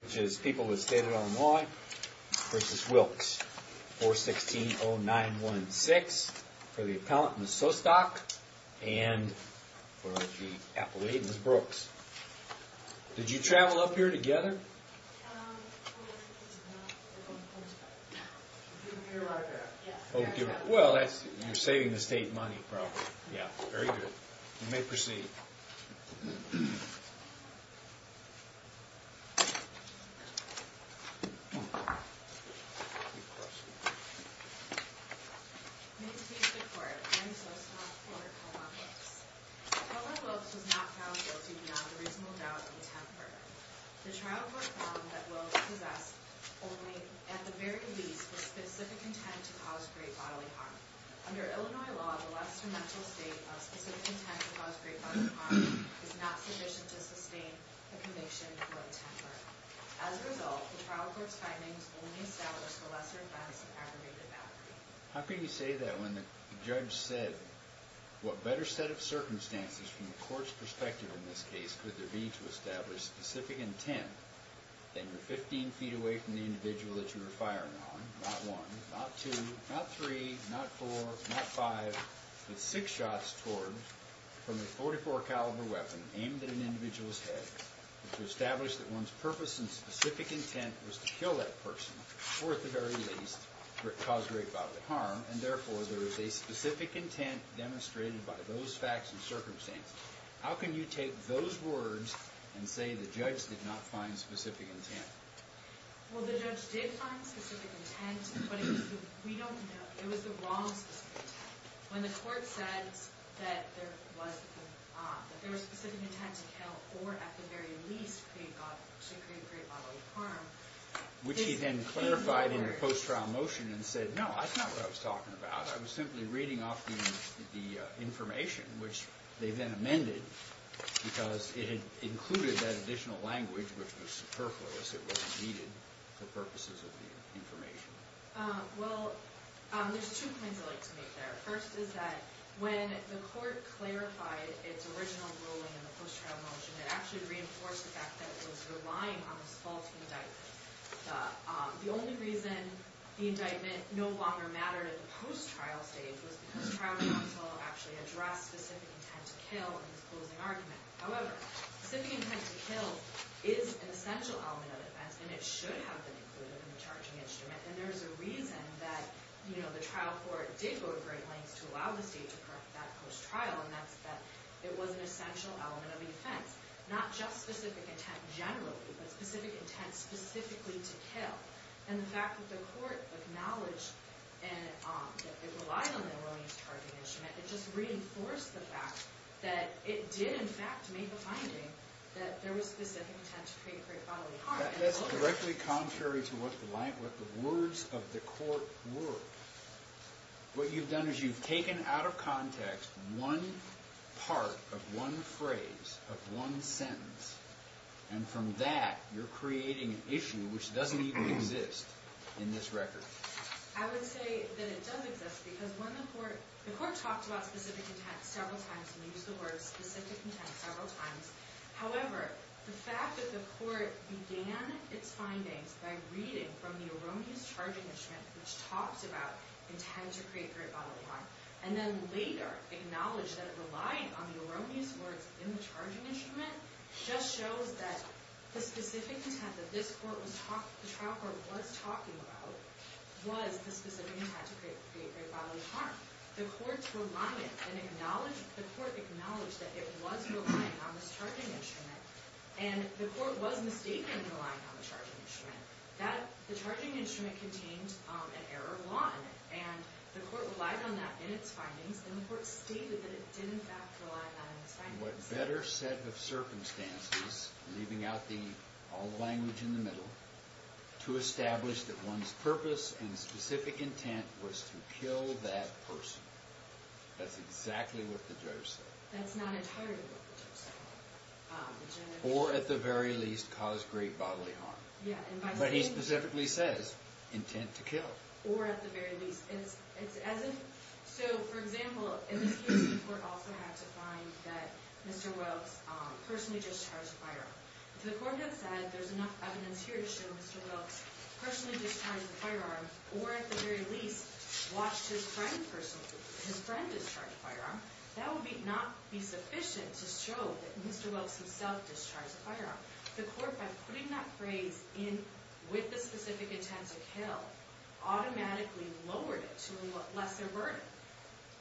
Which is people with state of Illinois versus Wilkes. 416-0916 for the appellant Ms. Sostock and for the appellate Ms. Brooks. Did you travel up here together? Um, no. You're right there. Well, you're saving the state money probably. Yeah, very good. You may proceed. May it please the court, I am Sostock for Kellogg-Wilkes. Kellogg-Wilkes was not found guilty beyond a reasonable doubt and temper. The trial court found that Wilkes possessed only, at the very least, the specific intent to cause great bodily harm. Under Illinois law, the lesser mental state of specific intent to cause great bodily harm is not sufficient to sustain a conviction to a temper. As a result, the trial court's findings only establish the lesser offense of aggravated battery. How can you say that when the judge said, what better set of circumstances from the court's perspective in this case could there be to establish specific intent and you're 15 feet away from the individual that you were firing on, not one, not two, not three, not four, not five, with six shots towards from a .44 caliber weapon aimed at an individual's head, to establish that one's purpose and specific intent was to kill that person, or at the very least, cause great bodily harm, and therefore there is a specific intent demonstrated by those facts and circumstances. How can you take those words and say the judge did not find specific intent? Well, the judge did find specific intent, but we don't know. It was the wrong specific intent. When the court said that there was specific intent to kill or, at the very least, to create great bodily harm, which he then clarified in the post-trial motion and said, no, that's not what I was talking about. I was simply reading off the information, which they then amended, because it had included that additional language, which was superfluous. It wasn't needed for purposes of the information. Well, there's two points I'd like to make there. First is that when the court clarified its original ruling in the post-trial motion, it actually reinforced the fact that it was relying on this false indictment. The only reason the indictment no longer mattered at the post-trial stage was because trial counsel actually addressed specific intent to kill in this closing argument. However, specific intent to kill is an essential element of offense, and it should have been included in the charging instrument. And there's a reason that the trial court did go to great lengths to allow the state to correct that post-trial, not just specific intent generally, but specific intent specifically to kill. And the fact that the court acknowledged that it relied on that ruling's charging instrument, it just reinforced the fact that it did, in fact, make a finding that there was specific intent to create great bodily harm. That's directly contrary to what the words of the court were. What you've done is you've taken out of context one part of one phrase of one sentence, and from that you're creating an issue which doesn't even exist in this record. I would say that it does exist because when the court – the court talked about specific intent several times, and they used the word specific intent several times. However, the fact that the court began its findings by reading from the erroneous charging instrument which talks about intent to create great bodily harm, and then later acknowledged that it relied on the erroneous words in the charging instrument, just shows that the specific intent that this court was – the trial court was talking about was the specific intent to create great bodily harm. The court's reliance and acknowledge – the court acknowledged that it was relying on this charging instrument, and the court was mistaken in relying on the charging instrument. The charging instrument contained an error 1, and the court relied on that in its findings, and the court stated that it did in fact rely on its findings. What better set of circumstances – leaving out all the language in the middle – to establish that one's purpose and specific intent was to kill that person. That's exactly what the judge said. That's not entirely what the judge said. Or, at the very least, cause great bodily harm. But he specifically says intent to kill. Or, at the very least. So, for example, in this case the court also had to find that Mr. Welks personally discharged a firearm. If the court had said there's enough evidence here to show Mr. Welks personally discharged a firearm, or, at the very least, watched his friend discharge a firearm, that would not be sufficient to show that Mr. Welks himself discharged a firearm. The court, by putting that phrase in with the specific intent to kill, automatically lowered it to a lesser burden.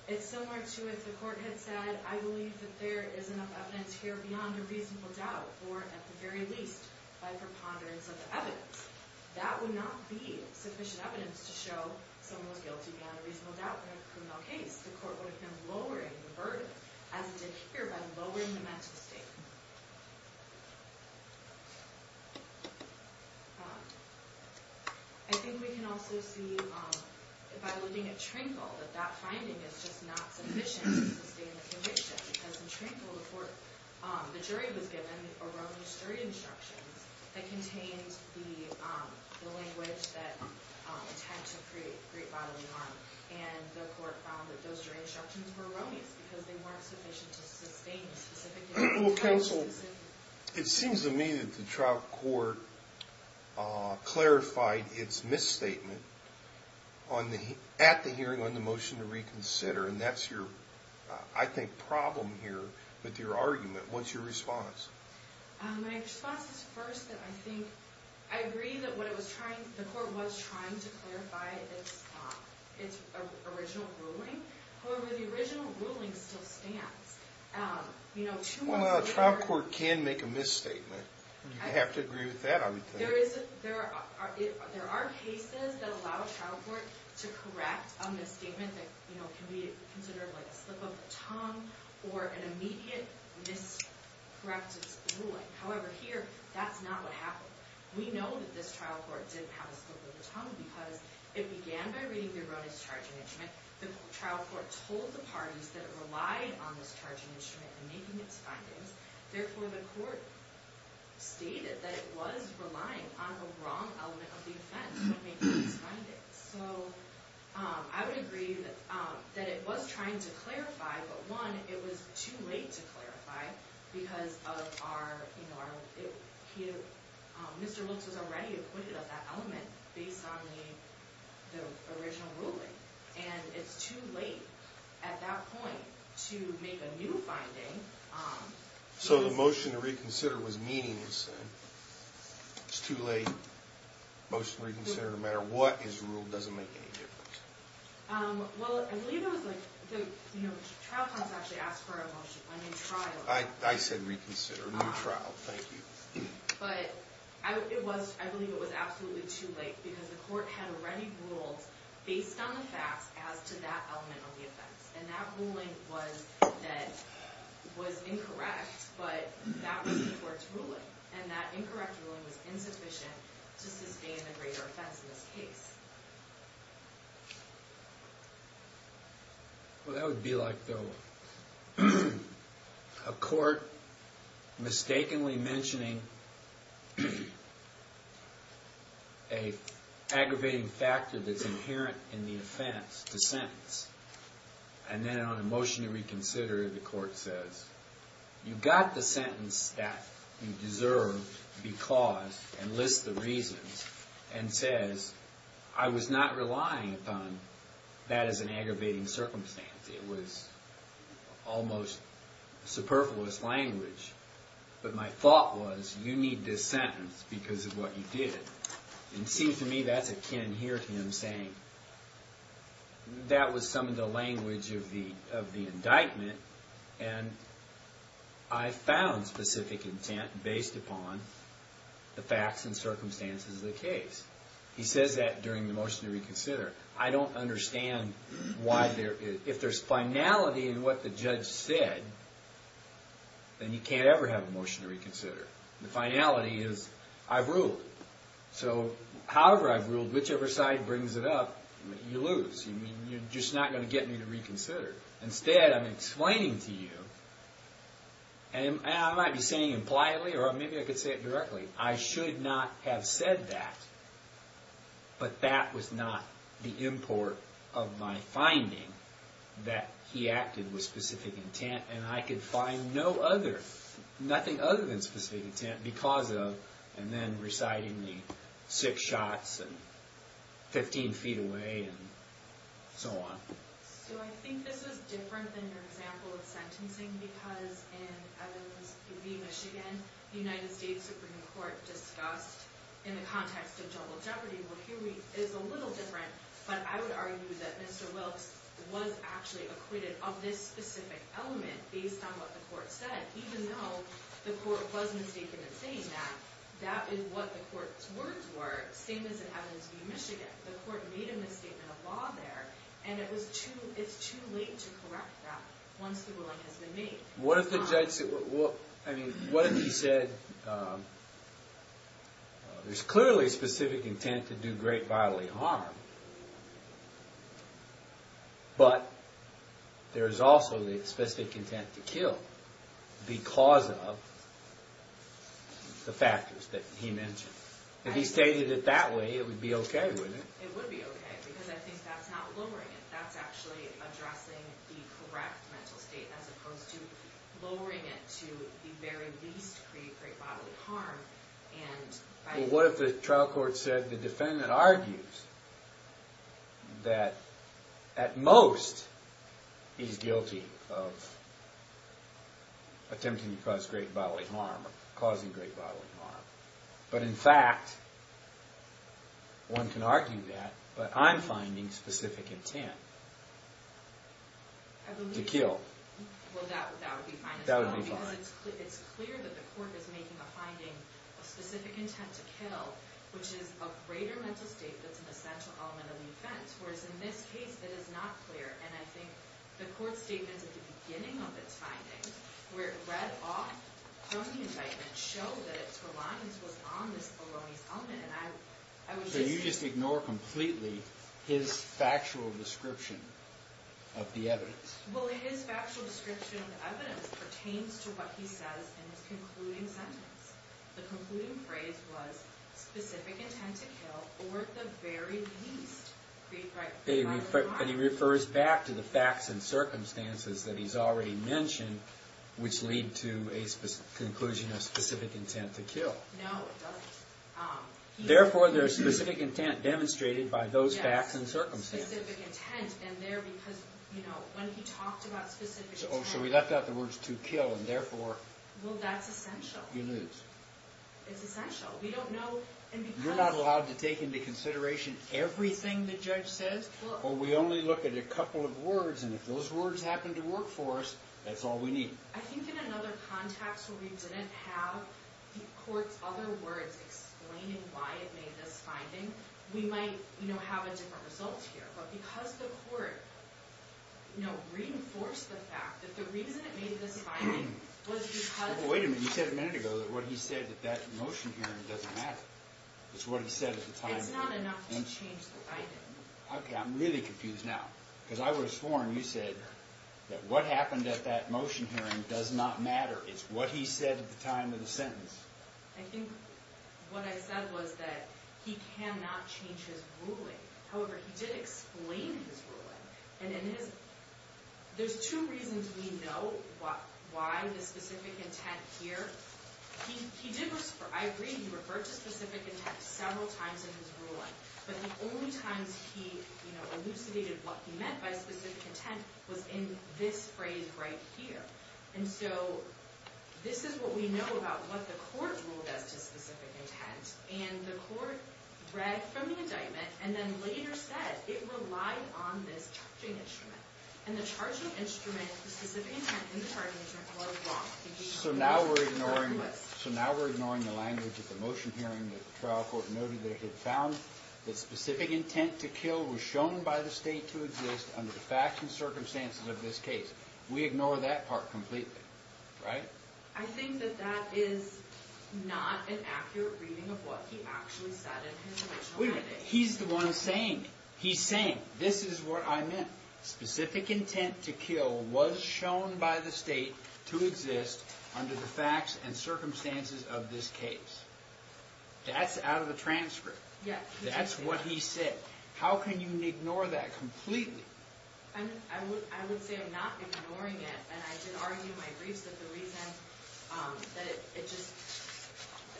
It's similar to if the court had said, I believe that there is enough evidence here beyond a reasonable doubt, or, at the very least, by preponderance of the evidence. That would not be sufficient evidence to show someone was guilty beyond a reasonable doubt in a criminal case. The court would have been lowering the burden, as it did here, by lowering the mental state. I think we can also see, by looking at Trinkle, that that finding is just not sufficient to sustain the conviction. Because in Trinkle, the jury was given erroneous jury instructions that contained the language that, intent to create great bodily harm. And the court found that those jury instructions were erroneous, because they weren't sufficient to sustain the specific intent. Counsel, it seems to me that the trial court clarified its misstatement at the hearing on the motion to reconsider, and that's your, I think, problem here with your argument. What's your response? My response is first that I think, I agree that the court was trying to clarify its original ruling. However, the original ruling still stands. Well, a trial court can make a misstatement. You have to agree with that, I would think. There are cases that allow a trial court to correct a misstatement that can be considered a slip of the tongue, or an immediate miscorrected ruling. However, here, that's not what happened. We know that this trial court didn't have a slip of the tongue, because it began by reading the erroneous charging instrument. The trial court told the parties that it relied on this charging instrument in making its findings. Therefore, the court stated that it was relying on a wrong element of the offense when making its findings. So, I would agree that it was trying to clarify, but one, it was too late to clarify, because Mr. Wilkes was already acquitted of that element, based on the original ruling. And it's too late, at that point, to make a new finding. So the motion to reconsider was meaningless, then? It's too late. Motion to reconsider, no matter what is ruled, doesn't make any difference. Well, I believe it was like, the trial court actually asked for a motion. I mean, trial. I said reconsider, not trial, thank you. But, I believe it was absolutely too late, because the court had already ruled, based on the facts, as to that element of the offense. And that ruling was incorrect, but that was the court's ruling. And that incorrect ruling was insufficient just as being a greater offense in this case. Well, that would be like, though, a court mistakenly mentioning an aggravating factor that's inherent in the offense to sentence. And then, on a motion to reconsider, the court says, you've got the sentence that you deserve, because, and lists the reasons, and says, I was not relying upon that as an aggravating circumstance. It was almost superfluous language. But my thought was, you need this sentence because of what you did. And it seems to me that's akin here to him saying, that was some of the language of the indictment, and I found specific intent based upon the facts and circumstances of the case. He says that during the motion to reconsider. I don't understand why there, if there's finality in what the judge said, then you can't ever have a motion to reconsider. The finality is, I've ruled. So, however I've ruled, whichever side brings it up, you lose. You're just not going to get me to reconsider. Instead, I'm explaining to you, and I might be saying it politely, or maybe I could say it directly, I should not have said that. But that was not the import of my finding, that he acted with specific intent, and I could find no other, nothing other than specific intent, because of, and then reciting the six shots, and 15 feet away, and so on. So I think this is different than your example of sentencing, because in Evans v. Michigan, the United States Supreme Court discussed, in the context of juggled jeopardy, well here is a little different, but I would argue that Mr. Wilkes was actually acquitted of this specific element, based on what the court said, even though the court was mistaken in saying that, that is what the court's words were, same as in Evans v. Michigan. The court made a misstatement of law there, and it's too late to correct that, once the ruling has been made. What if the judge said, what if he said, there's clearly specific intent to do great bodily harm, but there is also the specific intent to kill, because of the factors that he mentioned. If he stated it that way, it would be okay, wouldn't it? It would be okay, because I think that's not lowering it, that's actually addressing the correct mental state, as opposed to lowering it to the very least, create great bodily harm. What if the trial court said, the defendant argues that at most, he's guilty of attempting to cause great bodily harm, or causing great bodily harm, but in fact, one can argue that, but I'm finding specific intent to kill. Well, that would be fine as well, because it's clear that the court is making a finding of specific intent to kill, which is a greater mental state that's an essential element of the offense, whereas in this case, it is not clear, and I think the court's statements at the beginning of its findings, where it read off from the indictment, show that its reliance was on this bolognese element. So you just ignore completely his factual description of the evidence? Well, his factual description of the evidence pertains to what he says in his concluding sentence. The concluding phrase was, specific intent to kill, or at the very least, create great bodily harm. And he refers back to the facts and circumstances that he's already mentioned, which lead to a conclusion of specific intent to kill. No, it doesn't. Therefore, there's specific intent demonstrated by those facts and circumstances. Yes, specific intent, and there, because, you know, when he talked about specific intent... Oh, so he left out the words to kill, and therefore... Well, that's essential. You lose. It's essential. We don't know, and because... You're not allowed to take into consideration everything the judge says? Well, we only look at a couple of words, and if those words happen to work for us, that's all we need. I think in another context where we didn't have the court's other words explaining why it made this finding, we might, you know, have a different result here. But because the court, you know, reinforced the fact that the reason it made this finding was because... Wait a minute. You said a minute ago that what he said at that motion hearing doesn't matter. It's what he said at the time... It's not enough to change the finding. Okay, I'm really confused now. Because I was sworn, you said, that what happened at that motion hearing does not matter. It's what he said at the time of the sentence. I think what I said was that he cannot change his ruling. However, he did explain his ruling. And in his... There's two reasons we know why the specific intent here... He did... I agree he referred to specific intent several times in his ruling. But the only times he, you know, elucidated what he meant by specific intent was in this phrase right here. And so this is what we know about what the court ruled as to specific intent. And the court read from the indictment and then later said it relied on this charging instrument. And the charging instrument... The specific intent in the charging instrument was wrong. So now we're ignoring... So now we're ignoring the language at the motion hearing that the trial court noted that it had found that specific intent to kill was shown by the state to exist under the facts and circumstances of this case. We ignore that part completely, right? I think that that is not an accurate reading of what he actually said in his original... Wait a minute. He's the one saying it. He's saying, this is what I meant. Specific intent to kill was shown by the state to exist under the facts and circumstances of this case. That's out of the transcript. That's what he said. How can you ignore that completely? I would say I'm not ignoring it. And I did argue in my briefs that the reason that it just...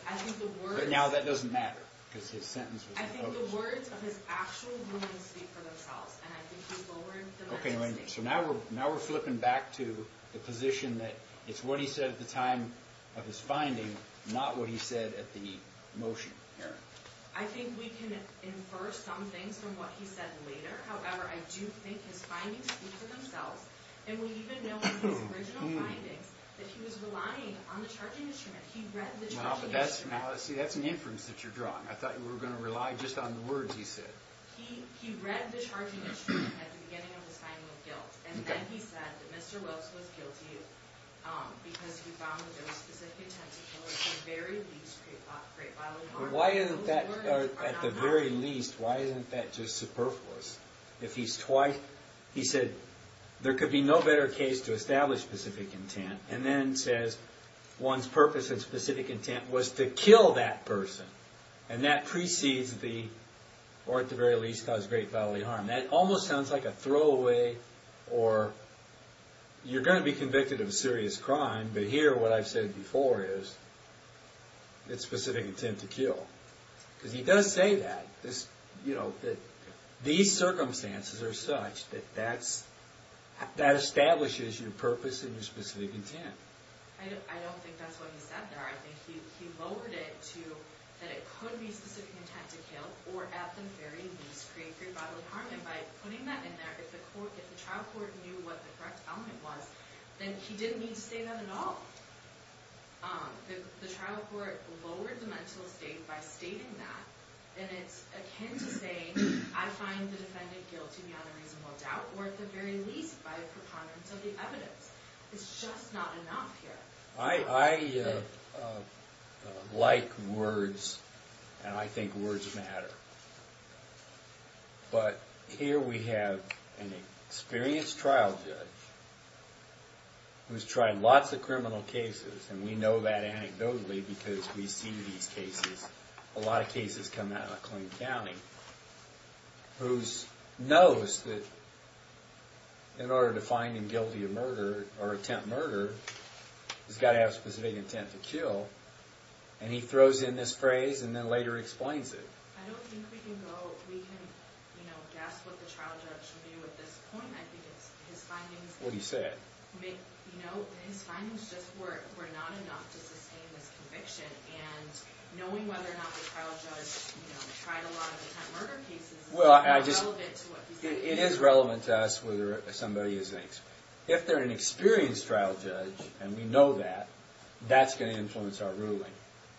I think the words... But now that doesn't matter, because his sentence was... I think the words of his actual ruling speak for themselves. And I think he lowered the... Okay, wait a minute. So now we're flipping back to the position that it's what he said at the time of his finding, not what he said at the motion hearing. I think we can infer some things from what he said later. However, I do think his findings speak for themselves. And we even know from his original findings that he was relying on the charging instrument. He read the charging instrument. See, that's an inference that you're drawing. I thought you were going to rely just on the words he said. He read the charging instrument at the beginning of his finding of guilt. And then he said that Mr. Wilkes was guilty because he found the dose specific intent to kill at the very least create bodily harm. Why isn't that... At the very least, why isn't that just superfluous? If he's twice... He said there could be no better case to establish specific intent. And then says one's purpose and specific intent was to kill that person. And that precedes the... Or at the very least, cause great bodily harm. That almost sounds like a throwaway or... You're going to be convicted of a serious crime, but here what I've said before is it's specific intent to kill. Because he does say that, that these circumstances are such that that establishes your purpose and your specific intent. I don't think that's what he said there. I think he lowered it to that it could be specific intent to kill or at the very least create great bodily harm. And by putting that in there, if the trial court knew what the correct element was, then he didn't need to say that at all. If the trial court lowered the mental state by stating that, then it's akin to saying, I find the defendant guilty beyond a reasonable doubt or at the very least by a preponderance of the evidence. It's just not enough here. I like words and I think words matter. But here we have an experienced trial judge who's tried lots of criminal cases and we know that anecdotally because we see these cases. A lot of cases come out of Clinton County who knows that in order to find him guilty of murder or attempt murder, he's got to have a specific intent to kill. And he throws in this phrase and then later explains it. I don't think we can go... We can guess what the trial judge should do at this point. What do you say? It is relevant to us whether somebody is... If they're an experienced trial judge and we know that, that's going to influence our ruling.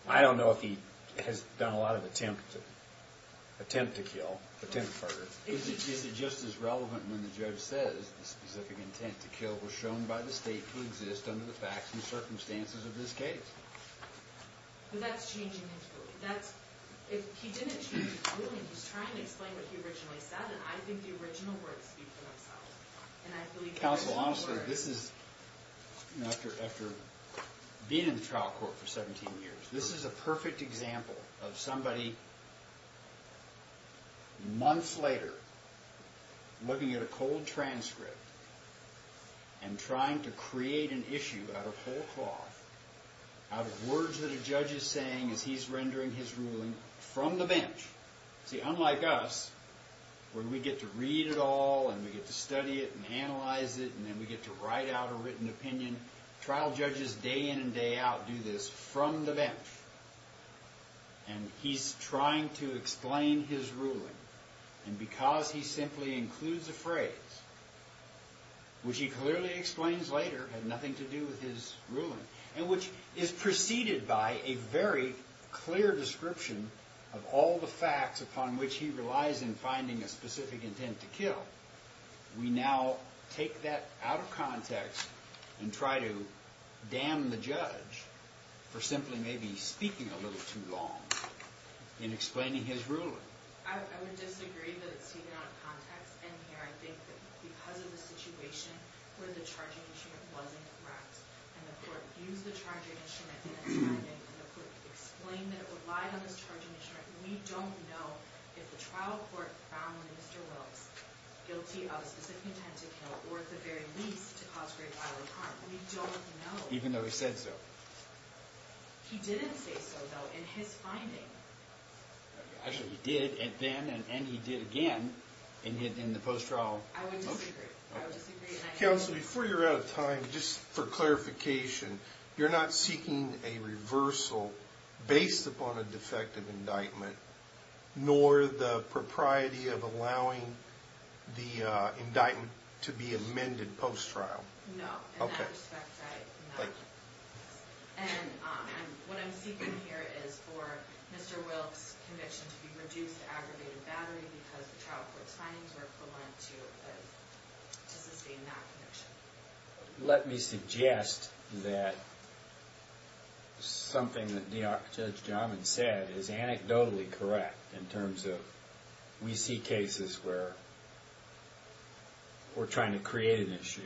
I don't know if he has done a lot of attempt to kill, attempt murder. Is it just as relevant when the judge says the specific intent to kill was shown by the state to exist under the facts and circumstances of this case? That's changing his ruling. If he didn't change his ruling, he's trying to explain what he originally said and I think the original words speak for themselves. Counsel, honestly, this is... After being in the trial court for 17 years, this is a perfect example of somebody months later looking at a cold transcript and trying to create an issue out of whole cloth, out of words that a judge is saying as he's rendering his ruling from the bench. See, unlike us, where we get to read it all and we get to study it and analyze it and then we get to write out a written opinion, trial judges day in and day out do this from the bench. And he's trying to explain his ruling and because he simply includes a phrase, which he clearly explains later had nothing to do with his ruling and which is preceded by a very clear description of all the facts upon which he relies in finding a specific intent to kill. We now take that out of context and try to damn the judge for simply maybe speaking a little too long in explaining his ruling. I would disagree that it's taken out of context and here I think that because of the situation where the charging instrument wasn't correct and the court used the charging instrument in its finding and the court explained that it relied on this charging instrument, we don't know if the trial court found Mr. Wills guilty of a specific intent to kill or at the very least to cause great violent harm. We don't know. Even though he said so. He didn't say so, though, in his finding. Actually, he did then and he did again in the post-trial motion. I would disagree. Counsel, before you're out of time, just for clarification, you're not seeking a reversal based upon a defective indictment nor the propriety of allowing the indictment to be amended post-trial? No. In that respect, I am not. And what I'm seeking here is for Mr. Wills' conviction to be reduced to aggravated battery because the trial court's findings were equivalent to sustain that conviction. Let me suggest that something that Judge Jamin said is anecdotally correct in terms of we see cases where we're trying to create an issue,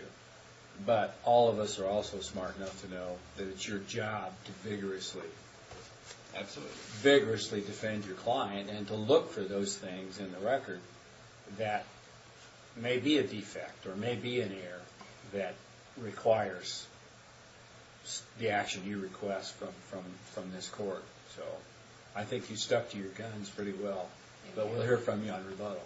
but all of us are also smart enough to know that it's your job to vigorously defend your client and to look for those things in the record that may be a defect or may be an error that requires the action you request from this court. So I think you stuck to your guns pretty well. But we'll hear from you on rebuttal.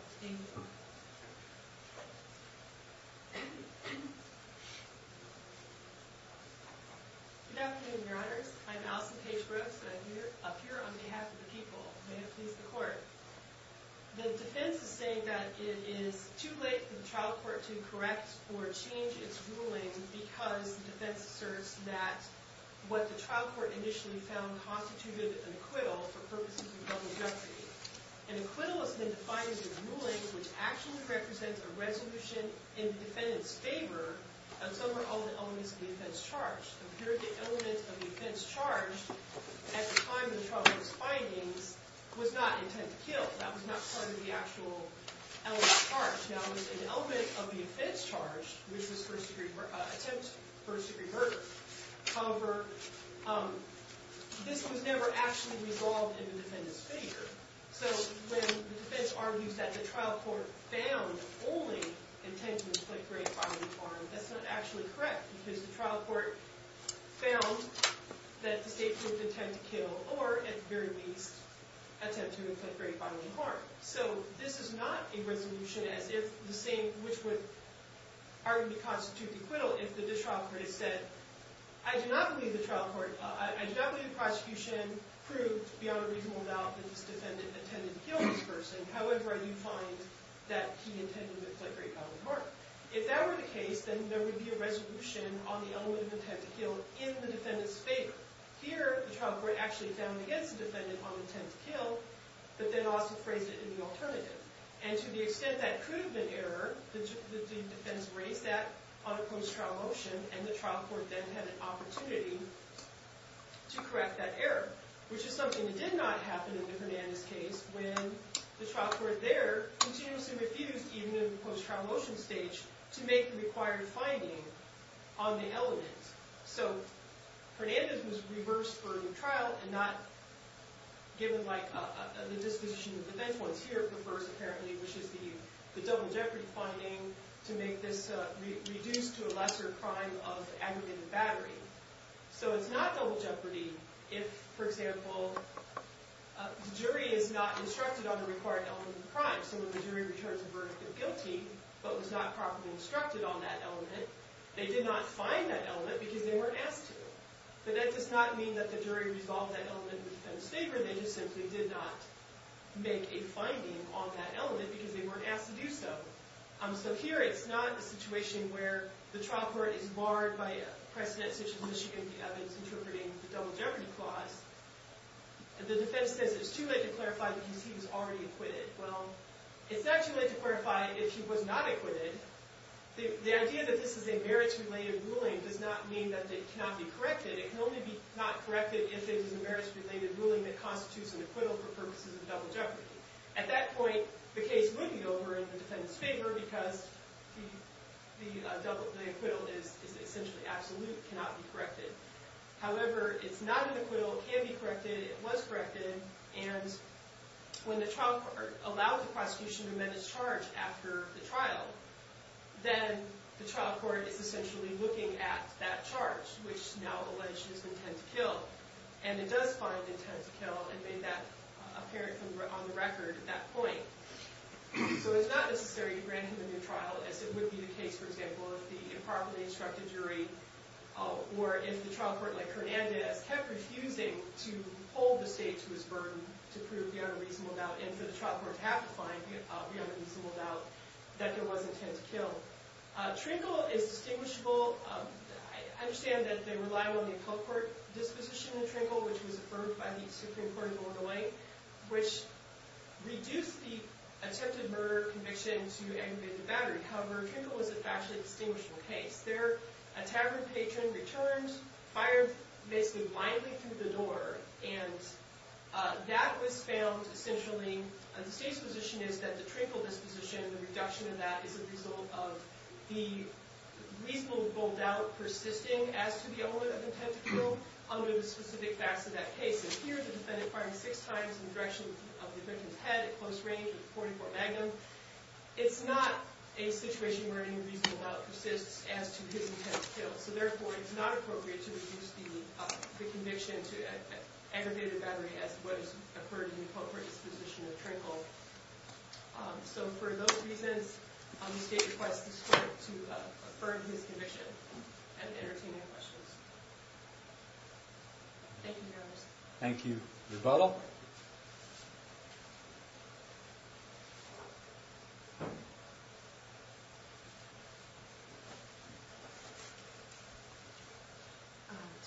Good afternoon, Your Honors. I'm Allison Paige Brooks, and I'm up here on behalf of the people. May it please the Court. The defense is saying that it is too late for the trial court to correct or change its ruling because the defense asserts that what the trial court initially found constituted an acquittal for purposes of public justice, an acquittal is then defined as a ruling which actually represents a resolution in the defendant's favor of some or all of the elements of the offense charged. Here, the element of the offense charged at the time of the trial court's findings was not intent to kill. That was not part of the actual element charged. Now, it was an element of the offense charged, which was first-degree attempt, first-degree murder. However, this was never actually resolved in the defendant's favor. So when the defense argues that the trial court found only intent to inflict great bodily harm, that's not actually correct because the trial court found that the state could intend to kill or, at the very least, attempt to inflict great bodily harm. So this is not a resolution as if the same which would arguably constitute acquittal if the trial court had said, I do not believe the trial court... I do not believe the prosecution proved beyond a reasonable doubt that this defendant intended to kill this person. However, I do find that he intended to inflict great bodily harm. If that were the case, then there would be a resolution on the element of intent to kill in the defendant's favor. Here, the trial court actually found against the defendant on intent to kill, but then also phrased it in the alternative. And to the extent that could have been error, the defense raised that on a post-trial motion, and the trial court then had an opportunity to correct that error, which is something that did not happen in the Hernandez case when the trial court there continuously refused, even in the post-trial motion stage, to make the required finding on the element. So Hernandez was reversed for the trial and not given, like, the disposition of defense. The point here refers, apparently, which is the double jeopardy finding to make this reduced to a lesser crime of aggravated battery. So it's not double jeopardy if, for example, the jury is not instructed on the required element of the crime. So when the jury returns a verdict of guilty but was not properly instructed on that element, they did not find that element because they weren't asked to. But that does not mean that the jury resolved that element of the defendant's favor. They just simply did not make a finding on that element because they weren't asked to do so. So here it's not a situation where the trial court is barred by a precedent such as Michigan v. Evans interpreting the double jeopardy clause. The defense says it's too late to clarify because he was already acquitted. Well, it's not too late to clarify if he was not acquitted. The idea that this is a merits-related ruling does not mean that it cannot be corrected. It can only be not corrected if it is a merits-related ruling that constitutes an acquittal for purposes of double jeopardy. At that point, the case would be over in the defendant's favor because the acquittal is essentially absolute, cannot be corrected. However, it's not an acquittal, it can be corrected, it was corrected, and when the trial court allows the prosecution to amend its charge after the trial, then the trial court is essentially looking at that charge, which is now alleged as intent to kill. And it does find intent to kill and made that apparent on the record at that point. So it's not necessary to grant him a new trial, as it would be the case, for example, if the improperly instructed jury or if the trial court, like Hernandez, kept refusing to hold the state to its burden to prove the unreasonable doubt, and for the trial court to have to find the unreasonable doubt that there was intent to kill. Trinkle is distinguishable. I understand that they rely on the appellate court disposition in Trinkle, which was affirmed by the Supreme Court of Illinois, which reduced the attempted murder conviction to aggravated battery. However, Trinkle was a factually distinguishable case. There, a tavern patron returned, fired basically blindly through the door, and that was found essentially... The state's position is that the Trinkle disposition, the reduction of that, is a result of the reasonable doubt persisting as to the element of intent to kill under the specific facts of that case. And here, the defendant fired six times in the direction of the victim's head at close range at 44 Magnum. It's not a situation where any reasonable doubt persists as to his intent to kill. So therefore, it's not appropriate to reduce the conviction to aggravated battery as what has occurred in the appropriate disposition of Trinkle. So for those reasons, the state requests the court to affirm his conviction and entertain any questions. Thank you, Your Honor. Thank you. Rebuttal?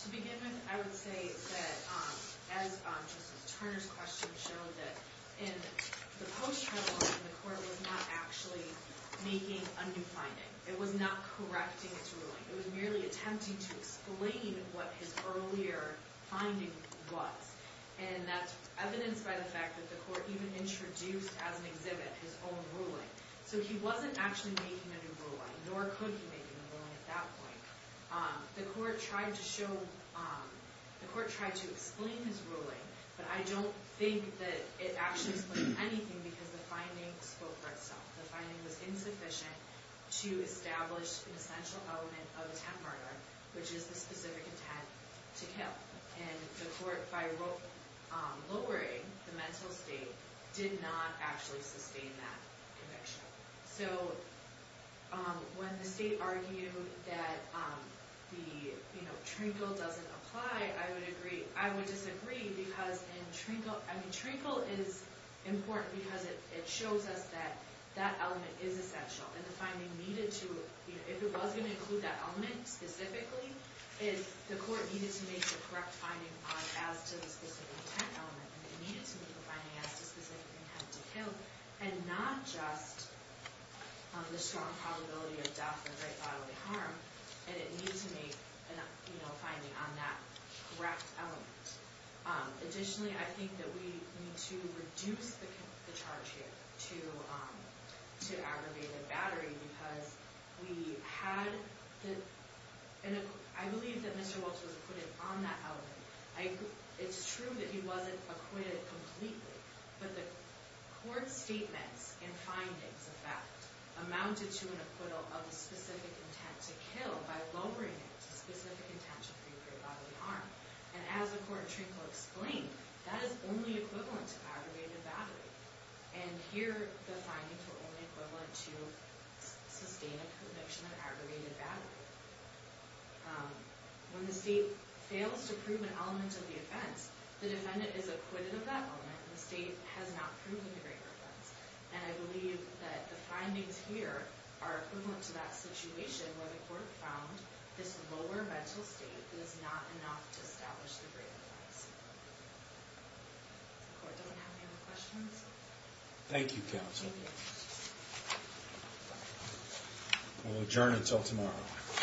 To begin with, I would say that as Justice Turner's question showed, that in the post-trial ruling, the court was not actually making a new finding. It was not correcting its ruling. It was merely attempting to explain what his earlier finding was. And that's evidenced by the fact that the court even introduced as an exhibit his own ruling. So he wasn't actually making a new ruling, nor could he make a new ruling at that point. The court tried to show... The court tried to explain his ruling, but I don't think that it actually explained anything because the finding spoke for itself. The finding was insufficient to establish an essential element of attempt murder, which is the specific intent to kill. And the court, by lowering the mental state, did not actually sustain that conviction. So when the state argued that the, you know, Trinkle doesn't apply, I would agree. I would disagree because in Trinkle... I mean, Trinkle is important because it shows us that that element is essential. And the finding needed to... If it was going to include that element specifically, the court needed to make the correct finding as to the specific intent element. It needed to make the finding as to the specific intent to kill, of death or right bodily harm. And it needed to make, you know, a determination on that correct element. Additionally, I think that we need to reduce the charge here to aggravate the battery because we had the... I believe that Mr. Walsh was acquitted on that element. It's true that he wasn't acquitted completely, but the court's statements and findings of that amounted to an acquittal of the specific intent to kill by lowering it to specific intent to free right bodily harm. And as the court of Trinkle explained, that is only equivalent to aggravated battery. And here the findings were only equivalent to sustained conviction of aggravated battery. When the state fails to prove an element of the offense, the defendant is acquitted of that element and the state has not proven the great offense. And I believe that the findings here are equivalent to that situation where the court found this lower mental state was not enough to establish the great offense. The court doesn't have any other questions? Thank you, counsel. We'll adjourn until tomorrow.